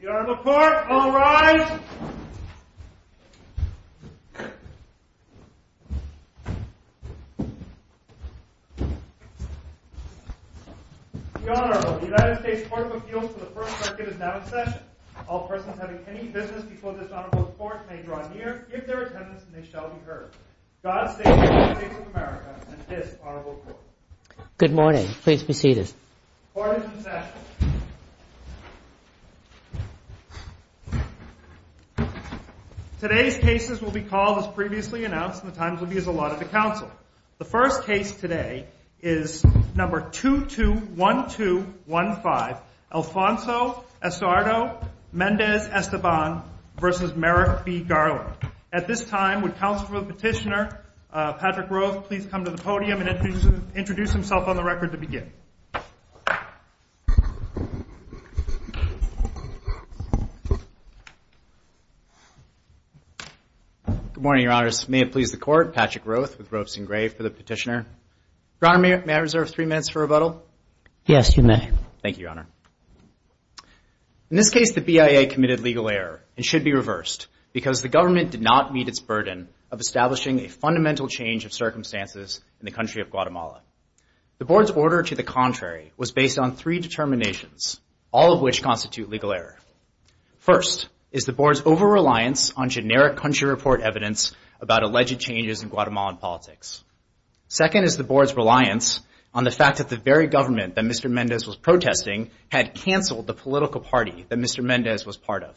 The Honorable Court, all rise. The Honorable United States Court of Appeals for the First Circuit is now in session. All persons having any business before this Honorable Court may draw near, give their attendance, and they shall be heard. God save the United States of America and this Honorable Court. Good morning. Please be seated. Court is in session. Today's cases will be called as previously announced, and the times will be as allotted to counsel. The first case today is number 221215, Alfonso Estardo Mendez Esteban v. Merrick B. Garland. At this time, would Counsel for the Petitioner, Patrick Roth, please come to the podium and introduce himself on the record to begin. Good morning, Your Honors. May it please the Court, Patrick Roth with Roths and Gray for the Petitioner. Your Honor, may I reserve three minutes for rebuttal? Yes, you may. Thank you, Your Honor. In this case, the BIA committed legal error and should be reversed because the government did not meet its burden of establishing a fundamental change of circumstances in the country of Guatemala. The Board's order to the contrary was based on three determinations, all of which constitute legal error. First is the Board's over-reliance on generic country report evidence about alleged changes in Guatemalan politics. Second is the Board's reliance on the fact that the very government that Mr. Mendez was protesting had canceled the political party that Mr. Mendez was part of.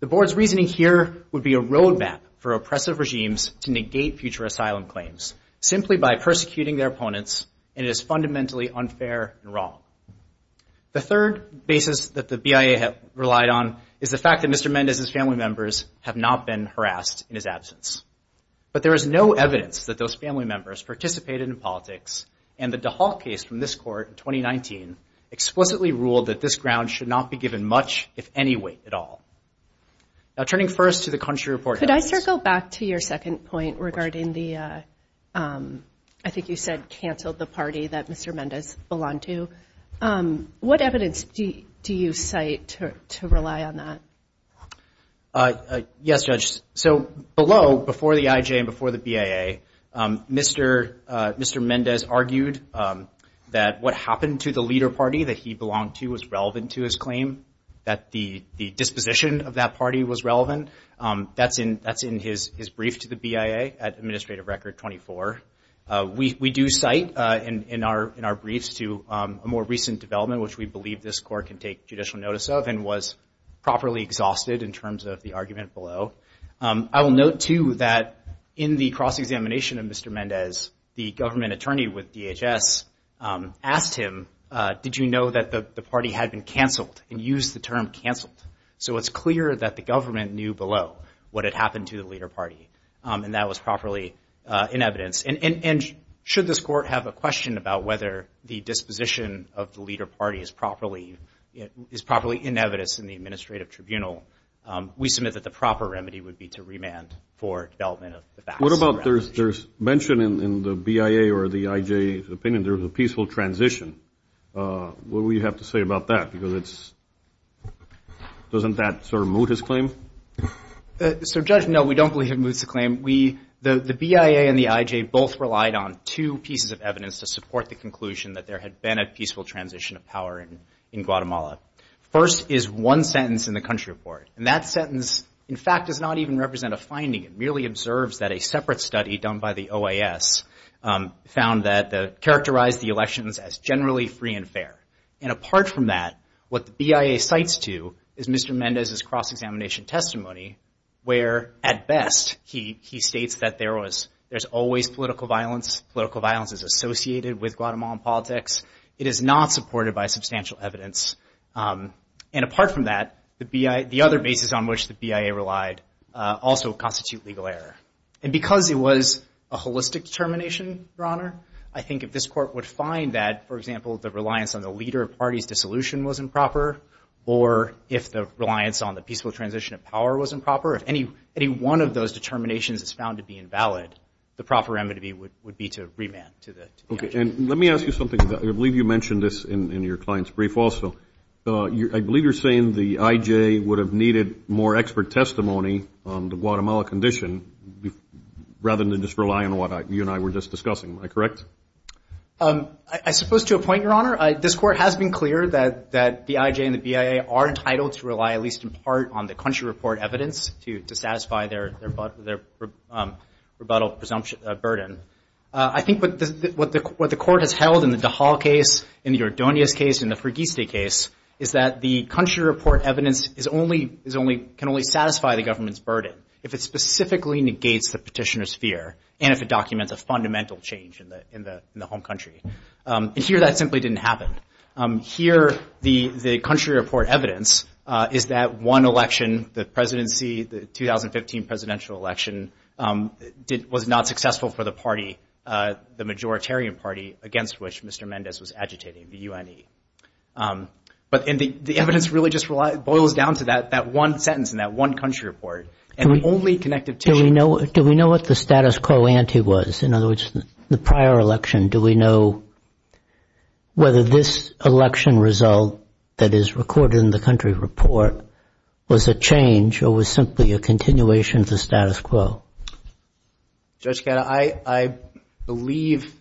The Board's reasoning here would be a roadmap for oppressive regimes to negate future asylum claims simply by persecuting their opponents, and it is fundamentally unfair and wrong. The third basis that the BIA relied on is the fact that Mr. Mendez's family members have not been harassed in his absence. But there is no evidence that those family members participated in politics, and the DeHaal case from this Court in 2019 explicitly ruled that this ground should not be given much, if any weight, at all. Now, turning first to the country report evidence— Could I circle back to your second point regarding the—I think you said canceled the party that Mr. Mendez belonged to. What evidence do you cite to rely on that? Yes, Judge. So, below, before the IJ and before the BIA, Mr. Mendez argued that what happened to the leader party that he belonged to was relevant to his claim, that the disposition of that party was relevant. That's in his brief to the BIA at Administrative Record 24. We do cite in our briefs to a more recent development, which we believe this Court can take judicial notice of and was properly exhausted in terms of the argument below. I will note, too, that in the cross-examination of Mr. Mendez, the government attorney with DHS asked him, did you know that the party had been canceled and used the term canceled? So, it's clear that the government knew below what had happened to the leader party, and that was properly in evidence. And should this Court have a question about whether the disposition of the leader party is properly in evidence in the administrative tribunal, we submit that the proper remedy would be to remand for development of the facts. What about there's mention in the BIA or the IJ's opinion there was a peaceful transition? What will you have to say about that? Doesn't that sort of moot his claim? So, Judge, no, we don't believe it moots the claim. The BIA and the IJ both relied on two pieces of evidence to support the conclusion that there had been a peaceful transition of power in Guatemala. First is one sentence in the country report, and that sentence, in fact, does not even represent a finding. It merely observes that a separate study done by the OAS found that they characterized the elections as generally free and fair. And apart from that, what the BIA cites to is Mr. Mendez's cross-examination testimony, where, at best, he states that there's always political violence. Political violence is associated with Guatemalan politics. It is not supported by substantial evidence. And apart from that, the other basis on which the BIA relied also constitute legal error. And because it was a holistic determination, Your Honor, I think if this court would find that, for example, the reliance on the leader of parties' dissolution wasn't proper or if the reliance on the peaceful transition of power wasn't proper, if any one of those determinations is found to be invalid, the proper remedy would be to remand to the IJ. Okay, and let me ask you something. I believe you mentioned this in your client's brief also. I believe you're saying the IJ would have needed more expert testimony on the Guatemala condition rather than just rely on what you and I were just discussing. Am I correct? I suppose to a point, Your Honor. This court has been clear that the IJ and the BIA are entitled to rely, at least in part, on the country report evidence to satisfy their rebuttal burden. I think what the court has held in the Dajal case, in the Ordonez case, in the Freguesi case, is that the country report evidence can only satisfy the government's burden if it specifically negates the petitioner's fear and if it documents a fundamental change in the home country. And here that simply didn't happen. Here the country report evidence is that one election, the presidency, the 2015 presidential election, was not successful for the party, the majoritarian party, against which Mr. Mendez was agitating, the UNE. But the evidence really just boils down to that one sentence in that one country report. And the only connective tissue. Do we know what the status quo ante was? In other words, the prior election, do we know whether this election result that is recorded in the country report was a change or was simply a continuation of the status quo? Judge Kata, I believe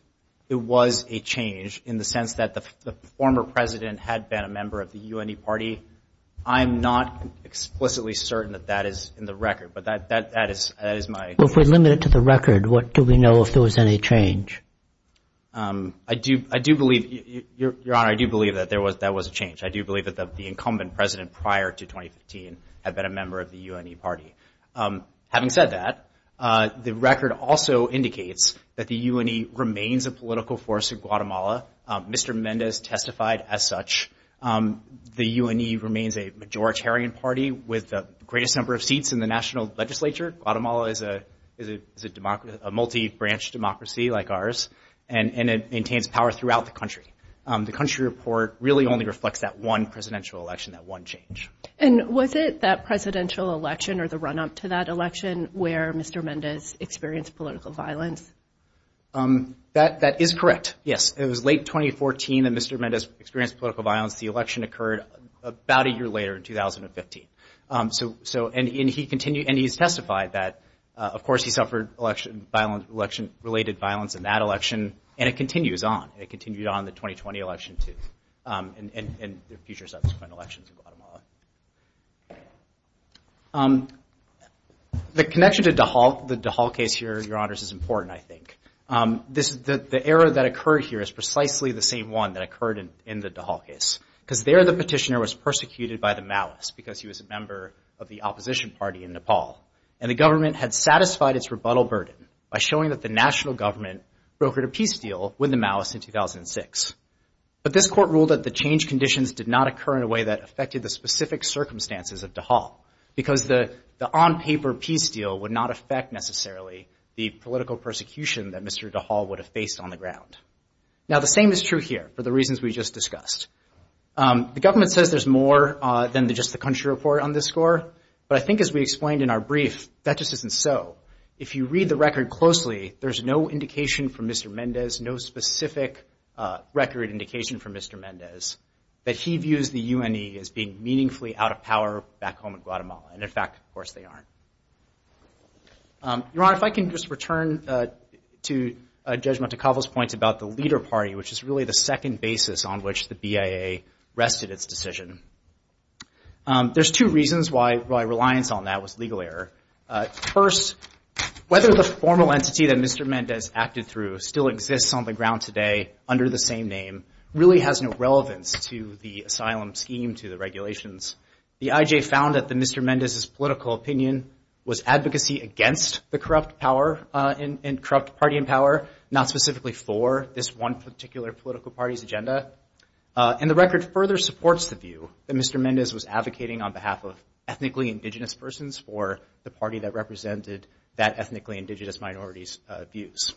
it was a change in the sense that the former president had been a member of the UNE party. I'm not explicitly certain that that is in the record, but that is my opinion. Well, if we limit it to the record, what do we know if there was any change? I do believe, Your Honor, I do believe that that was a change. I do believe that the incumbent president prior to 2015 had been a member of the UNE party. Having said that, the record also indicates that the UNE remains a political force in Guatemala. Mr. Mendez testified as such. The UNE remains a majoritarian party with the greatest number of seats in the national legislature. Guatemala is a multi-branch democracy like ours, and it maintains power throughout the country. The country report really only reflects that one presidential election, that one change. And was it that presidential election or the run-up to that election where Mr. Mendez experienced political violence? That is correct, yes. It was late 2014 that Mr. Mendez experienced political violence. The election occurred about a year later in 2015. And he's testified that, of course, he suffered election-related violence in that election, and it continues on. It continued on in the 2020 election, too, and there are future subsequent elections in Guatemala. The connection to the DeHaul case here, Your Honors, is important, I think. The error that occurred here is precisely the same one that occurred in the DeHaul case, because there the petitioner was persecuted by the Maoists because he was a member of the opposition party in Nepal. And the government had satisfied its rebuttal burden by showing that the national government brokered a peace deal with the Maoists in 2006. But this court ruled that the change conditions did not occur in a way that affected the specific circumstances of DeHaul, because the on-paper peace deal would not affect, necessarily, the political persecution that Mr. DeHaul would have faced on the ground. Now, the same is true here for the reasons we just discussed. The government says there's more than just the country report on this score, but I think as we explained in our brief, that just isn't so. If you read the record closely, there's no indication from Mr. Mendez, no specific record indication from Mr. Mendez, that he views the UNE as being meaningfully out of power back home in Guatemala. And, in fact, of course they aren't. Your Honor, if I can just return to Judge Montecalvo's points about the leader party, which is really the second basis on which the BIA rested its decision. There's two reasons why reliance on that was legal error. First, whether the formal entity that Mr. Mendez acted through still exists on the ground today, under the same name, really has no relevance to the asylum scheme, to the regulations. The IJ found that Mr. Mendez's political opinion was advocacy against the corrupt party in power, not specifically for this one particular political party's agenda. And the record further supports the view that Mr. Mendez was advocating on behalf of the party that represented that ethnically indigenous minority's views.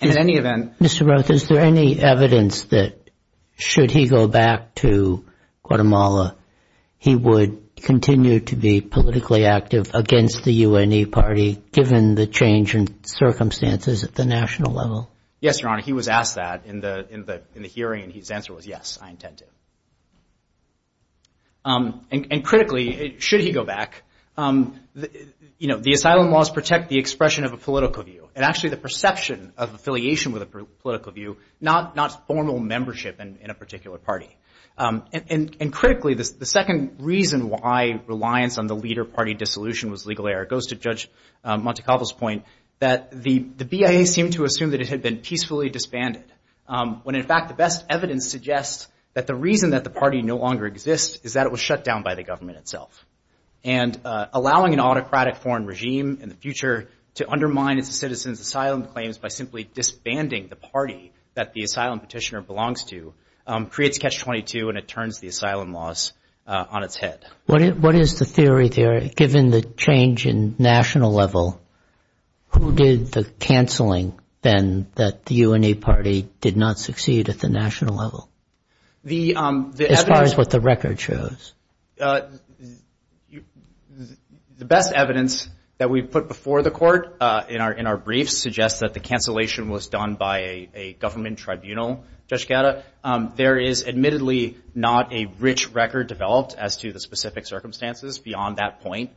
And in any event- Mr. Roth, is there any evidence that, should he go back to Guatemala, he would continue to be politically active against the UNE party, given the change in circumstances at the national level? Yes, Your Honor. He was asked that in the hearing, and his answer was, yes, I intend to. And critically, should he go back, you know, the asylum laws protect the expression of a political view, and actually the perception of affiliation with a political view, not formal membership in a particular party. And critically, the second reason why reliance on the leader party dissolution was legal error goes to Judge Montecalvo's point that the BIA seemed to assume that it had been peacefully disbanded, when in fact the best evidence suggests that the reason that the party no longer exists is that it was shut down by the government itself. And allowing an autocratic foreign regime in the future to undermine its citizens' asylum claims by simply disbanding the party that the asylum petitioner belongs to creates Catch-22, and it turns the asylum laws on its head. What is the theory there, given the change in national level, who did the canceling then that the UNA party did not succeed at the national level, as far as what the record shows? The best evidence that we've put before the court in our briefs suggests that the cancellation was done by a government tribunal, Judge Gatta. There is admittedly not a rich record developed as to the specific circumstances beyond that point,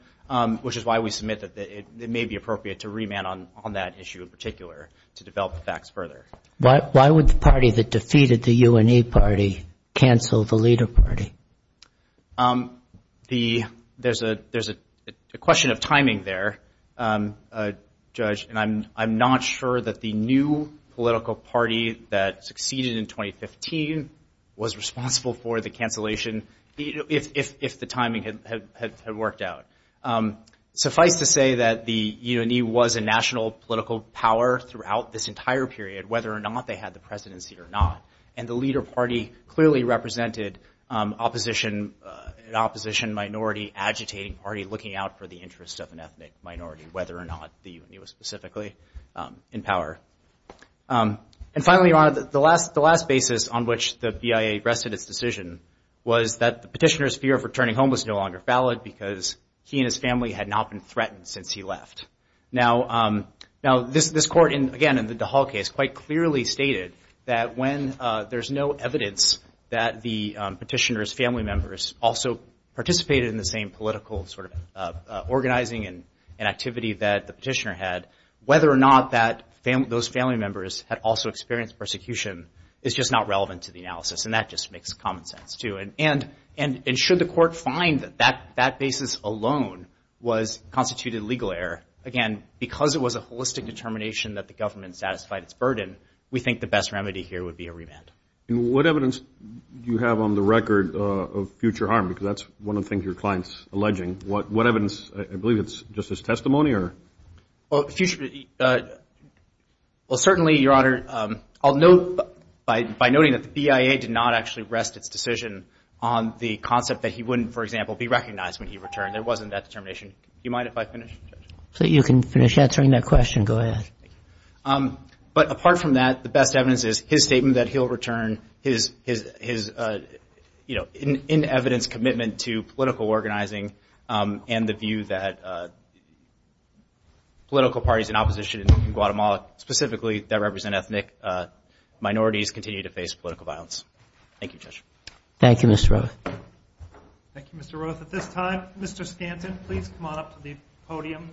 which is why we submit that it may be appropriate to remand on that issue in particular, to develop the facts further. Why would the party that defeated the UNA party cancel the leader party? There's a question of timing there, Judge, and I'm not sure that the new political party that succeeded in 2015 was responsible for the cancellation, if the timing had worked out. Suffice to say that the UNE was a national political power throughout this entire period, whether or not they had the presidency or not, and the leader party clearly represented an opposition minority agitating party looking out for the interests of an ethnic minority, whether or not the UNE was specifically in power. And finally, Your Honor, the last basis on which the BIA rested its decision was that the petitioner's fear of returning home was no longer valid because he and his family had not been threatened since he left. Now, this court, again, in the DeHaul case, quite clearly stated that when there's no evidence that the petitioner's family members also participated in the same political organizing and activity that the petitioner had, whether or not those family members had also experienced persecution is just not relevant to the analysis, and that just makes common sense, too. And should the court find that that basis alone was constituted legal error, again, because it was a holistic determination that the government satisfied its burden, we think the best remedy here would be a remand. What evidence do you have on the record of future harm? Because that's one of the things your client's alleging. What evidence? I believe it's just his testimony or? Well, certainly, Your Honor, I'll note by noting that the BIA did not actually rest its decision on the concept that he wouldn't, for example, be recognized when he returned. There wasn't that determination. Do you mind if I finish? You can finish answering that question. Go ahead. But apart from that, the best evidence is his statement that he'll return his, you know, in evidence commitment to political organizing and the view that political parties in opposition in Guatemala, specifically that represent ethnic minorities, continue to face political violence. Thank you, Judge. Thank you, Mr. Roth. Thank you, Mr. Roth. At this time, Mr. Stanton, please come on up to the podium.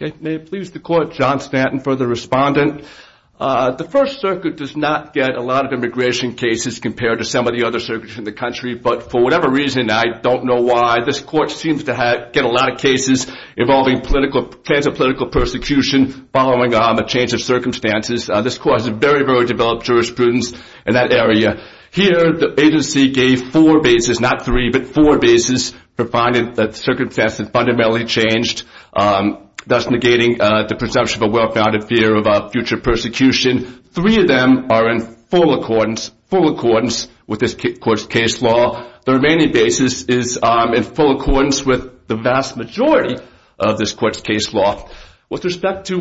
Okay. May it please the Court, John Stanton for the respondent. The First Circuit does not get a lot of immigration cases compared to some of the other circuits in the country, but for whatever reason, I don't know why, this Court seems to get a lot of cases involving potential political persecution following a change of circumstances. This Court has very, very developed jurisprudence in that area. Here, the agency gave four bases, not three, but four bases for finding that circumstances fundamentally changed, thus negating the presumption of a well-founded fear of future persecution. Three of them are in full accordance with this Court's case law. The remaining basis is in full accordance with the vast majority of this Court's case law. With respect to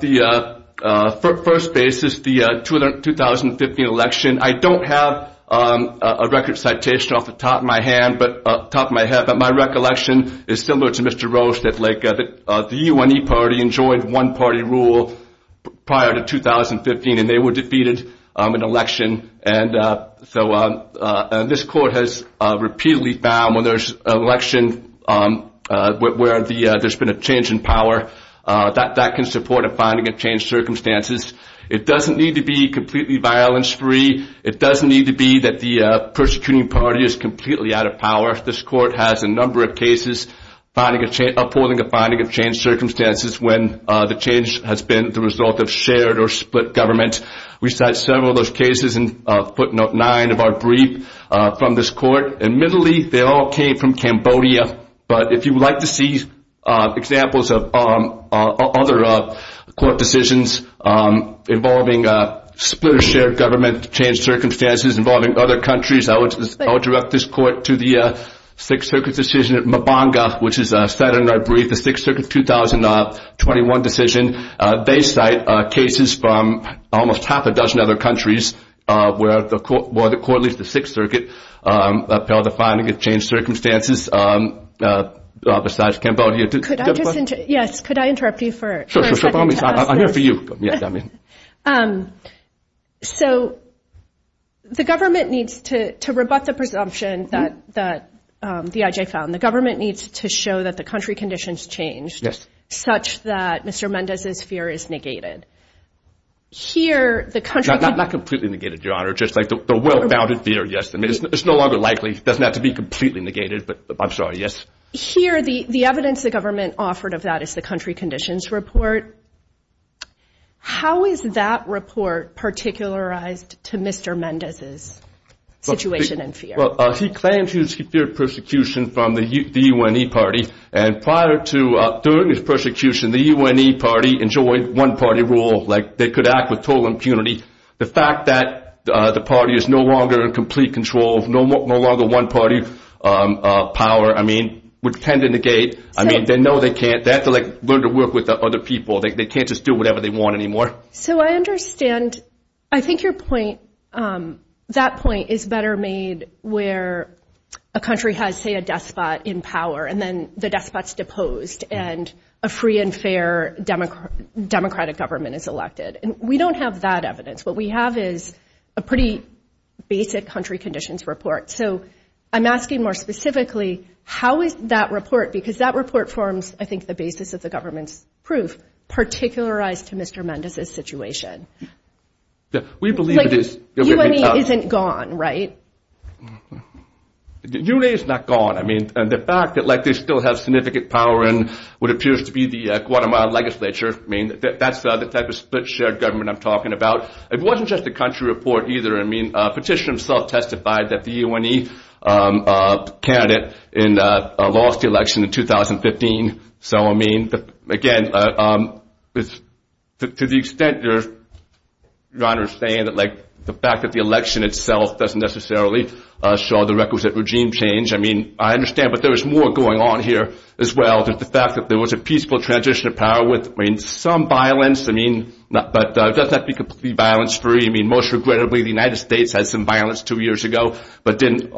the first basis, the 2015 election, I don't have a record citation off the top of my head, but the 2015 election is similar to Mr. Rose's, that the U.N.E. Party enjoined one-party rule prior to 2015, and they were defeated in an election. So this Court has repeatedly found when there's an election where there's been a change in power, that that can support a finding of changed circumstances. It doesn't need to be completely violence-free. It doesn't need to be that the persecuting party is completely out of power. This Court has a number of cases upholding a finding of changed circumstances when the change has been the result of shared or split government. We cite several of those cases in footnote 9 of our brief from this Court. Admittedly, they all came from Cambodia, but if you would like to see examples of other Court decisions involving split or shared government, changed circumstances involving other countries, I would direct this Court to the Sixth Circuit decision at Mabanga, which is set in our brief, the Sixth Circuit 2021 decision. They cite cases from almost half a dozen other countries where the Court leads the Sixth Circuit upheld a finding of changed circumstances besides Cambodia. Do you have a question? Yes, could I interrupt you for a second to ask this? I'm here for you. So the government needs to rebut the presumption that the IJ found. The government needs to show that the country conditions changed such that Mr. Mendez's fear is negated. Not completely negated, Your Honor. Just like the well-founded fear, yes. It's no longer likely. It doesn't have to be completely negated, but I'm sorry, yes. Here, the evidence the government offered of that is the country conditions report. How is that report particularized to Mr. Mendez's situation and fear? Well, he claims he feared persecution from the U.N.E. party, and prior to, during his persecution, the U.N.E. party enjoyed one-party rule, like they could act with total impunity. The fact that the party is no longer in complete control, no longer one-party power, I mean, would tend to negate. I mean, they know they can't. They have to learn to work with other people. They can't just do whatever they want anymore. So I understand. I think your point, that point is better made where a country has, say, a despot in power, and then the despot's deposed and a free and fair democratic government is elected. And we don't have that evidence. What we have is a pretty basic country conditions report. So I'm asking more specifically, how is that report, because that report forms, I think, the basis of the government's proof, particularized to Mr. Mendez's situation. The U.N.E. isn't gone, right? The U.N.E. is not gone. I mean, the fact that, like, they still have significant power in what appears to be the Guatemala legislature, I mean, that's the type of split shared government I'm talking about. It wasn't just a country report either. I mean, Petitioner himself testified that the U.N.E. candidate lost the election in 2015. So, I mean, again, to the extent your Honor is saying that, like, the fact that the election itself doesn't necessarily show the requisite regime change, I mean, I understand, but there is more going on here as well. The fact that there was a peaceful transition of power with, I mean, some violence, I mean, but it doesn't have to be completely violence-free. I mean, most regrettably, the United States had some violence two years ago, but didn't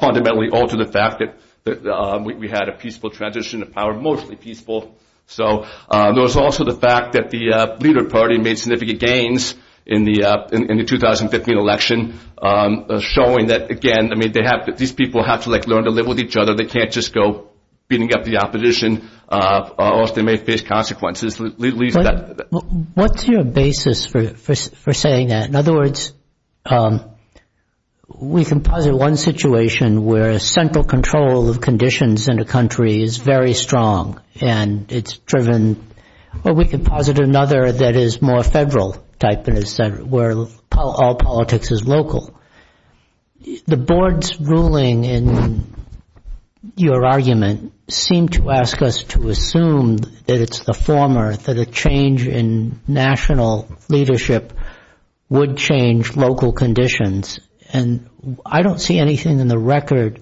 fundamentally alter the fact that we had a peaceful transition of power, mostly peaceful. So there was also the fact that the leader party made significant gains in the 2015 election, showing that, again, I mean, these people have to, like, learn to live with each other. They can't just go beating up the opposition or else they may face consequences. What's your basis for saying that? In other words, we can posit one situation where central control of conditions in a country is very strong and it's driven, or we can posit another that is more federal type, where all politics is local. The board's ruling in your argument seemed to ask us to assume that it's the former, that a change in national leadership would change local conditions, and I don't see anything in the record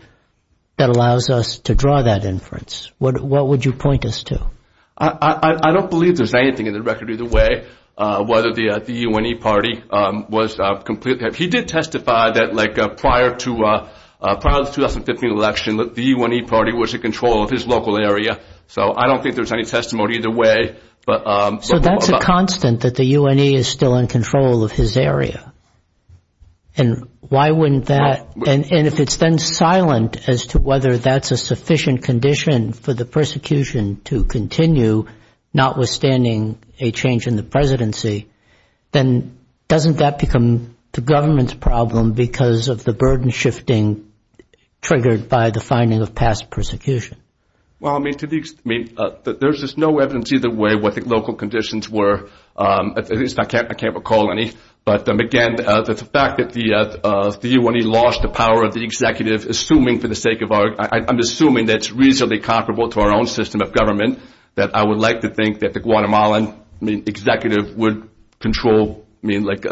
that allows us to draw that inference. What would you point us to? I don't believe there's anything in the record either way, whether the U.N.E. party was completely. He did testify that, like, prior to the 2015 election, the U.N.E. party was in control of his local area. So I don't think there's any testimony either way. So that's a constant that the U.N.E. is still in control of his area, and why wouldn't that, and if it's then silent as to whether that's a sufficient condition for the persecution to continue, notwithstanding a change in the presidency, then doesn't that become the government's problem because of the burden shifting triggered by the finding of past persecution? Well, I mean, there's just no evidence either way what the local conditions were. I can't recall any, but, again, the fact that the U.N.E. lost the power of the executive, I'm assuming that's reasonably comparable to our own system of government, that I would like to think that the Guatemalan executive would control, I mean, like,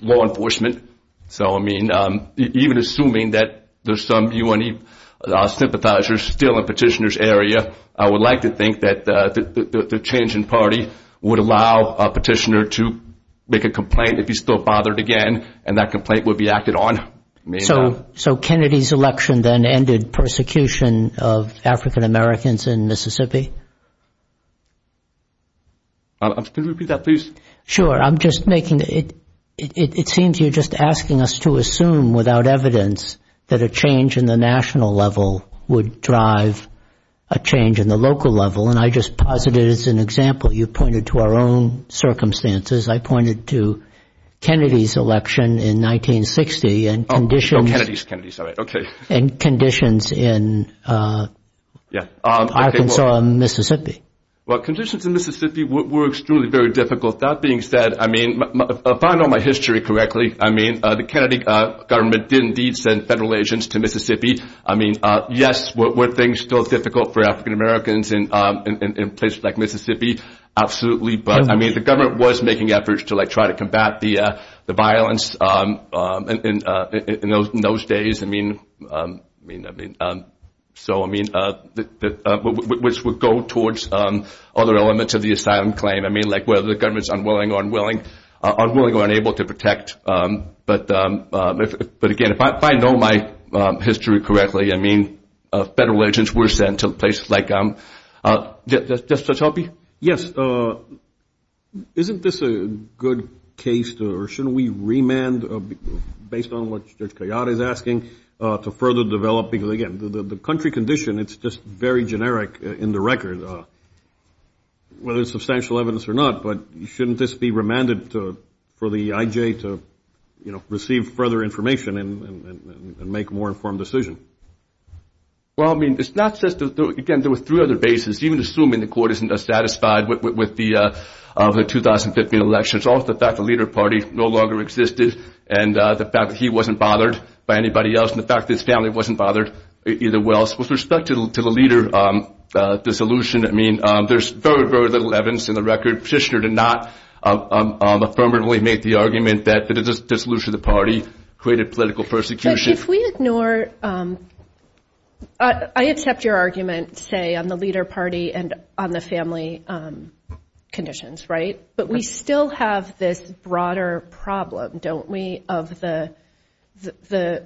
law enforcement. So, I mean, even assuming that there's some U.N.E. sympathizers still in Petitioner's area, I would like to think that the change in party would allow Petitioner to make a complaint if he's still bothered again, and that complaint would be acted on. So, Kennedy's election then ended persecution of African Americans in Mississippi? Could you repeat that, please? Sure. I'm just making, it seems you're just asking us to assume without evidence that a change in the national level would drive a change in the local level, and I just posit it as an example. You pointed to our own circumstances. I pointed to Kennedy's election in 1960 and conditions in Arkansas and Mississippi. Well, conditions in Mississippi were extremely very difficult. That being said, I mean, if I know my history correctly, I mean, the Kennedy government did indeed send federal agents to Mississippi. I mean, yes, were things still difficult for African Americans in places like Mississippi? Absolutely. But, I mean, the government was making efforts to, like, try to combat the violence in those days. I mean, so, I mean, which would go towards other elements of the asylum claim. I mean, like, whether the government's unwilling or unable to protect. But, again, if I know my history correctly, I mean, federal agents were sent to places like, just to help you? Yes. Isn't this a good case to, or shouldn't we remand based on what Judge Coyote is asking to further develop, because, again, the country condition, it's just very generic in the record, whether it's substantial evidence or not, but shouldn't this be remanded for the IJ to, you know, receive further information and make a more informed decision? Well, I mean, it's not just, again, there were three other bases. Even assuming the court isn't as satisfied with the 2015 election, it's also the fact the leader party no longer existed and the fact that he wasn't bothered by anybody else and the fact that his family wasn't bothered either well. With respect to the leader dissolution, I mean, there's very, very little evidence in the record. I would petitioner to not affirmatively make the argument that the dissolution of the party created political persecution. If we ignore, I accept your argument, say, on the leader party and on the family conditions, right? But we still have this broader problem, don't we, of the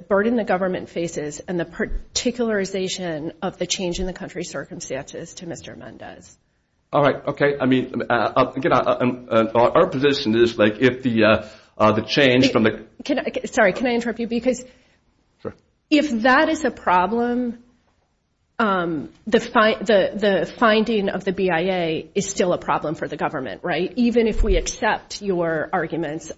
burden the government faces and the particularization of the change in the country's circumstances to Mr. Mendez. All right. Okay. I mean, our position is, like, if the change from the- Sorry, can I interrupt you? Because if that is a problem, the finding of the BIA is still a problem for the government, right? Even if we accept your arguments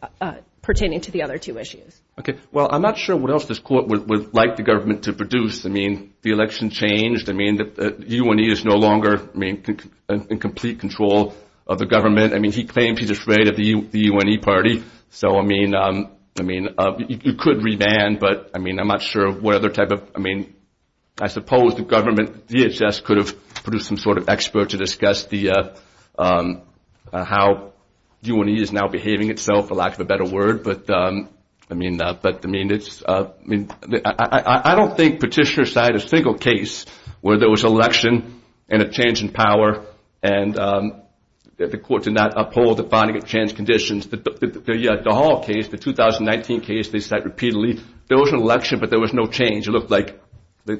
pertaining to the other two issues. Okay. Well, I'm not sure what else this court would like the government to produce. I mean, the election changed. I mean, the UNE is no longer in complete control of the government. I mean, he claims he's afraid of the UNE party. So, I mean, you could revand, but I mean, I'm not sure what other type of- I mean, I suppose the government, DHS, could have produced some sort of expert to discuss how UNE is now behaving itself, for lack of a better word. But, I mean, it's- I don't think petitioners cite a single case where there was election and a change in power, and the court did not uphold the finding of changed conditions. The Hall case, the 2019 case they cite repeatedly, there was an election, but there was no change. It looked like there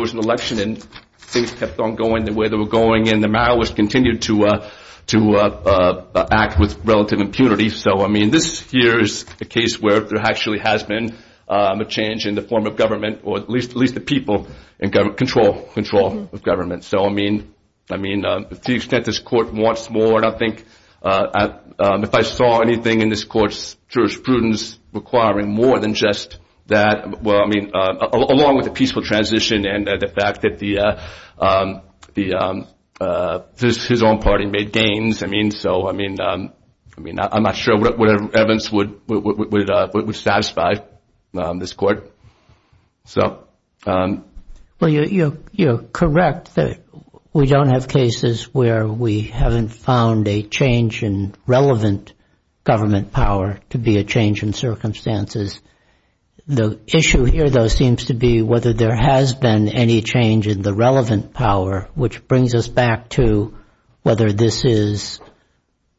was an election, and things kept on going the way they were going, and the malice continued to act with relative impunity. So, I mean, this here is a case where there actually has been a change in the form of government, or at least the people in control of government. So, I mean, to the extent this court wants more, and I think if I saw anything in this court's jurisprudence requiring more than just that, well, I mean, along with the peaceful transition and the fact that his own party made gains. I mean, so, I mean, I'm not sure what evidence would satisfy this court. Well, you're correct that we don't have cases where we haven't found a change in relevant government power to be a change in circumstances. The issue here, though, seems to be whether there has been any change in the relevant power, which brings us back to whether this is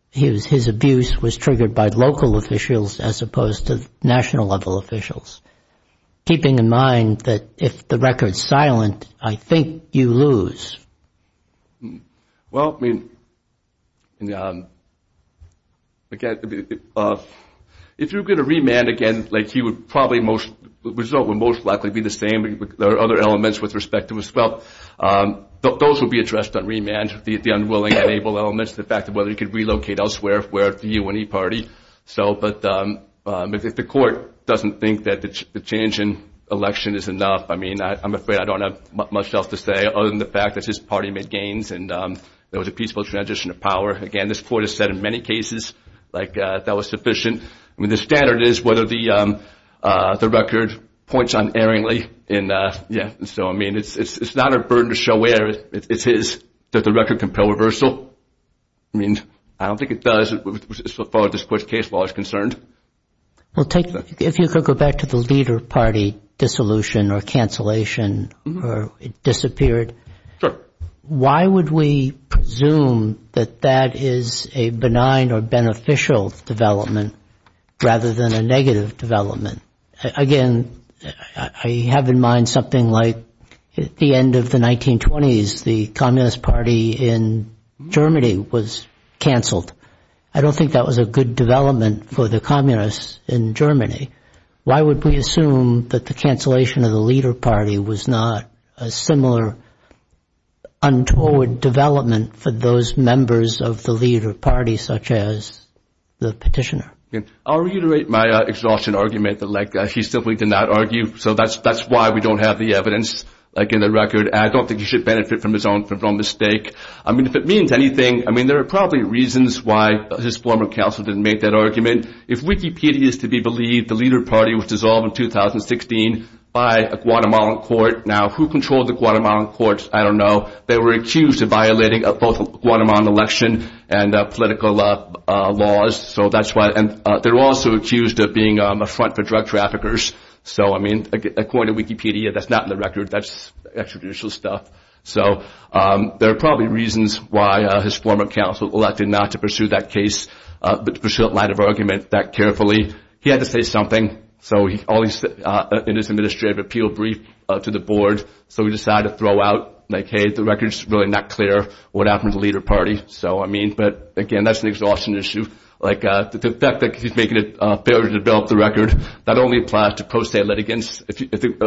his abuse was triggered by local officials as opposed to national level officials, keeping in mind that if the record's silent, I think you lose. Well, I mean, if you're going to remand again, like he would probably most, the result would most likely be the same, but there are other elements with respect to his wealth. Those will be addressed on remand, the unwilling and able elements, the fact of whether he could relocate elsewhere, where the UNE party. So, but if the court doesn't think that the change in election is enough, I mean, I'm afraid I don't have much else to say, other than the fact that his party made gains and there was a peaceful transition of power. Again, this court has said in many cases like that was sufficient. I mean, the standard is whether the record points unerringly in. Yeah. So, I mean, it's not a burden to show where it is that the record compel reversal. I mean, I don't think it does. So far, this court's case law is concerned. Well, take if you could go back to the leader party dissolution or cancellation or disappeared. Why would we presume that that is a benign or beneficial development rather than a negative development? Again, I have in mind something like at the end of the 1920s, the Communist Party in Germany was cancelled. I don't think that was a good development for the communists in Germany. Why would we assume that the cancellation of the leader party was not a similar untoward development for those members of the leader party, such as the petitioner? I'll reiterate my exhaustion argument that he simply did not argue, so that's why we don't have the evidence in the record. I don't think he should benefit from his own mistake. I mean, if it means anything, I mean, there are probably reasons why his former counsel didn't make that argument. If Wikipedia is to be believed, the leader party was dissolved in 2016 by a Guatemalan court. Now, who controlled the Guatemalan court? I don't know. They were accused of violating both Guatemalan election and political laws, so that's why. And they were also accused of being a front for drug traffickers. So, I mean, according to Wikipedia, that's not in the record. That's extrajudicial stuff. So, there are probably reasons why his former counsel elected not to pursue that case, but to pursue it in light of argument that carefully. He had to say something. So, in his administrative appeal brief to the board, so he decided to throw out, like, hey, the record's really not clear what happened to the leader party. So, I mean, but, again, that's an exhaustion issue. Like, the fact that he's making it fair to develop the record, that only applies to post-state litigants. If the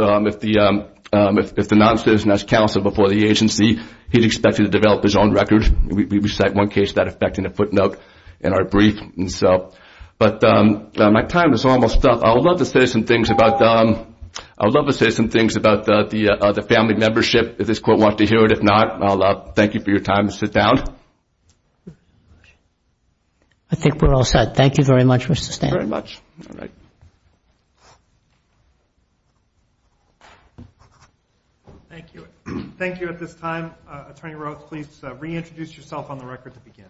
non-citizen has counsel before the agency, he's expected to develop his own record. We cite one case of that effect in a footnote in our brief. But my time is almost up. I would love to say some things about the family membership, if this court wants to hear it. If not, I'll thank you for your time and sit down. I think we're all set. Thank you very much, Mr. Stanton. Thank you very much. All right. Thank you. Thank you at this time. Attorney Roth, please reintroduce yourself on the record to begin.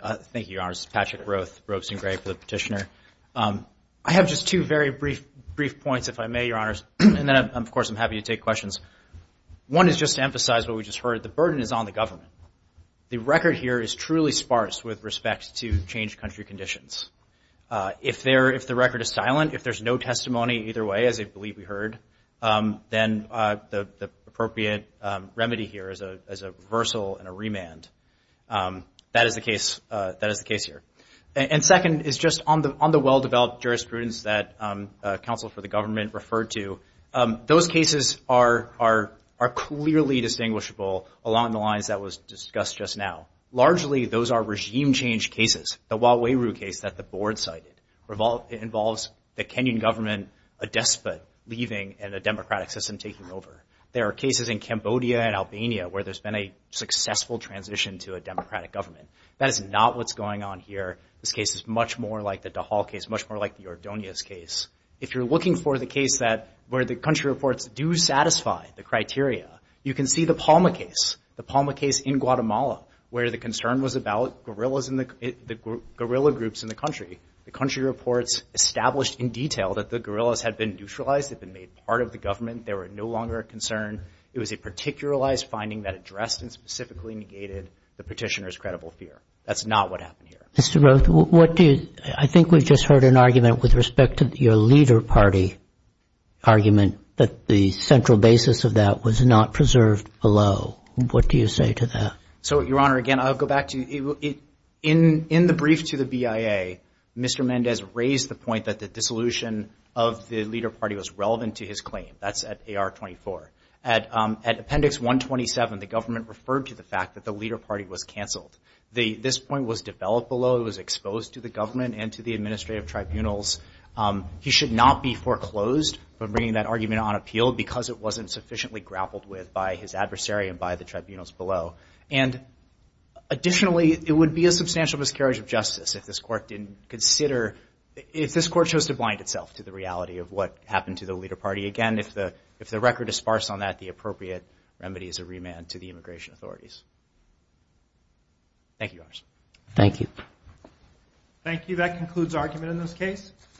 Thank you, Your Honors. This is Patrick Roth, Robson Gray for the petitioner. I have just two very brief points, if I may, Your Honors, and then, of course, I'm happy to take questions. One is just to emphasize what we just heard. The burden is on the government. The record here is truly sparse with respect to changed country conditions. If the record is silent, if there's no testimony either way, as I believe we heard, then the appropriate remedy here is a reversal and a remand. That is the case here. And second is just on the well-developed jurisprudence that counsel for the government referred to, those cases are clearly distinguishable along the lines that was discussed just now. Largely, those are regime-changed cases. The Waweru case that the board cited involves the Kenyan government a despot leaving and a democratic system taking over. There are cases in Cambodia and Albania where there's been a successful transition to a democratic government. That is not what's going on here. This case is much more like the Dahal case, much more like the Ordonez case. If you're looking for the case that where the country reports do satisfy the criteria, you can see the Palma case, the Palma case in Guatemala where the concern was about guerrillas and the guerrilla groups in the country. The country reports established in detail that the guerrillas had been neutralized, had been made part of the government, they were no longer a concern. It was a particularized finding that addressed and specifically negated the petitioner's credible fear. That's not what happened here. Mr. Roth, what do you, I think we just heard an argument with respect to your leader party argument that the central basis of that was not preserved below. What do you say to that? So, Your Honor, again, I'll go back to, in the brief to the BIA, Mr. Mendez raised the point that the dissolution of the leader party was relevant to his claim. That's at AR-24. At Appendix 127, the government referred to the fact that the leader party was canceled. This point was developed below. It was exposed to the government and to the administrative tribunals. He should not be foreclosed from bringing that argument on appeal because it wasn't sufficiently grappled with by his adversary and by the tribunals below. And additionally, it would be a substantial miscarriage of justice if this court didn't consider, if this court chose to blind itself to the reality of what happened to the leader party. Again, if the record is sparse on that, the appropriate remedy is a remand to the immigration authorities. Thank you, Your Honor. Thank you. Thank you. That concludes argument in this case.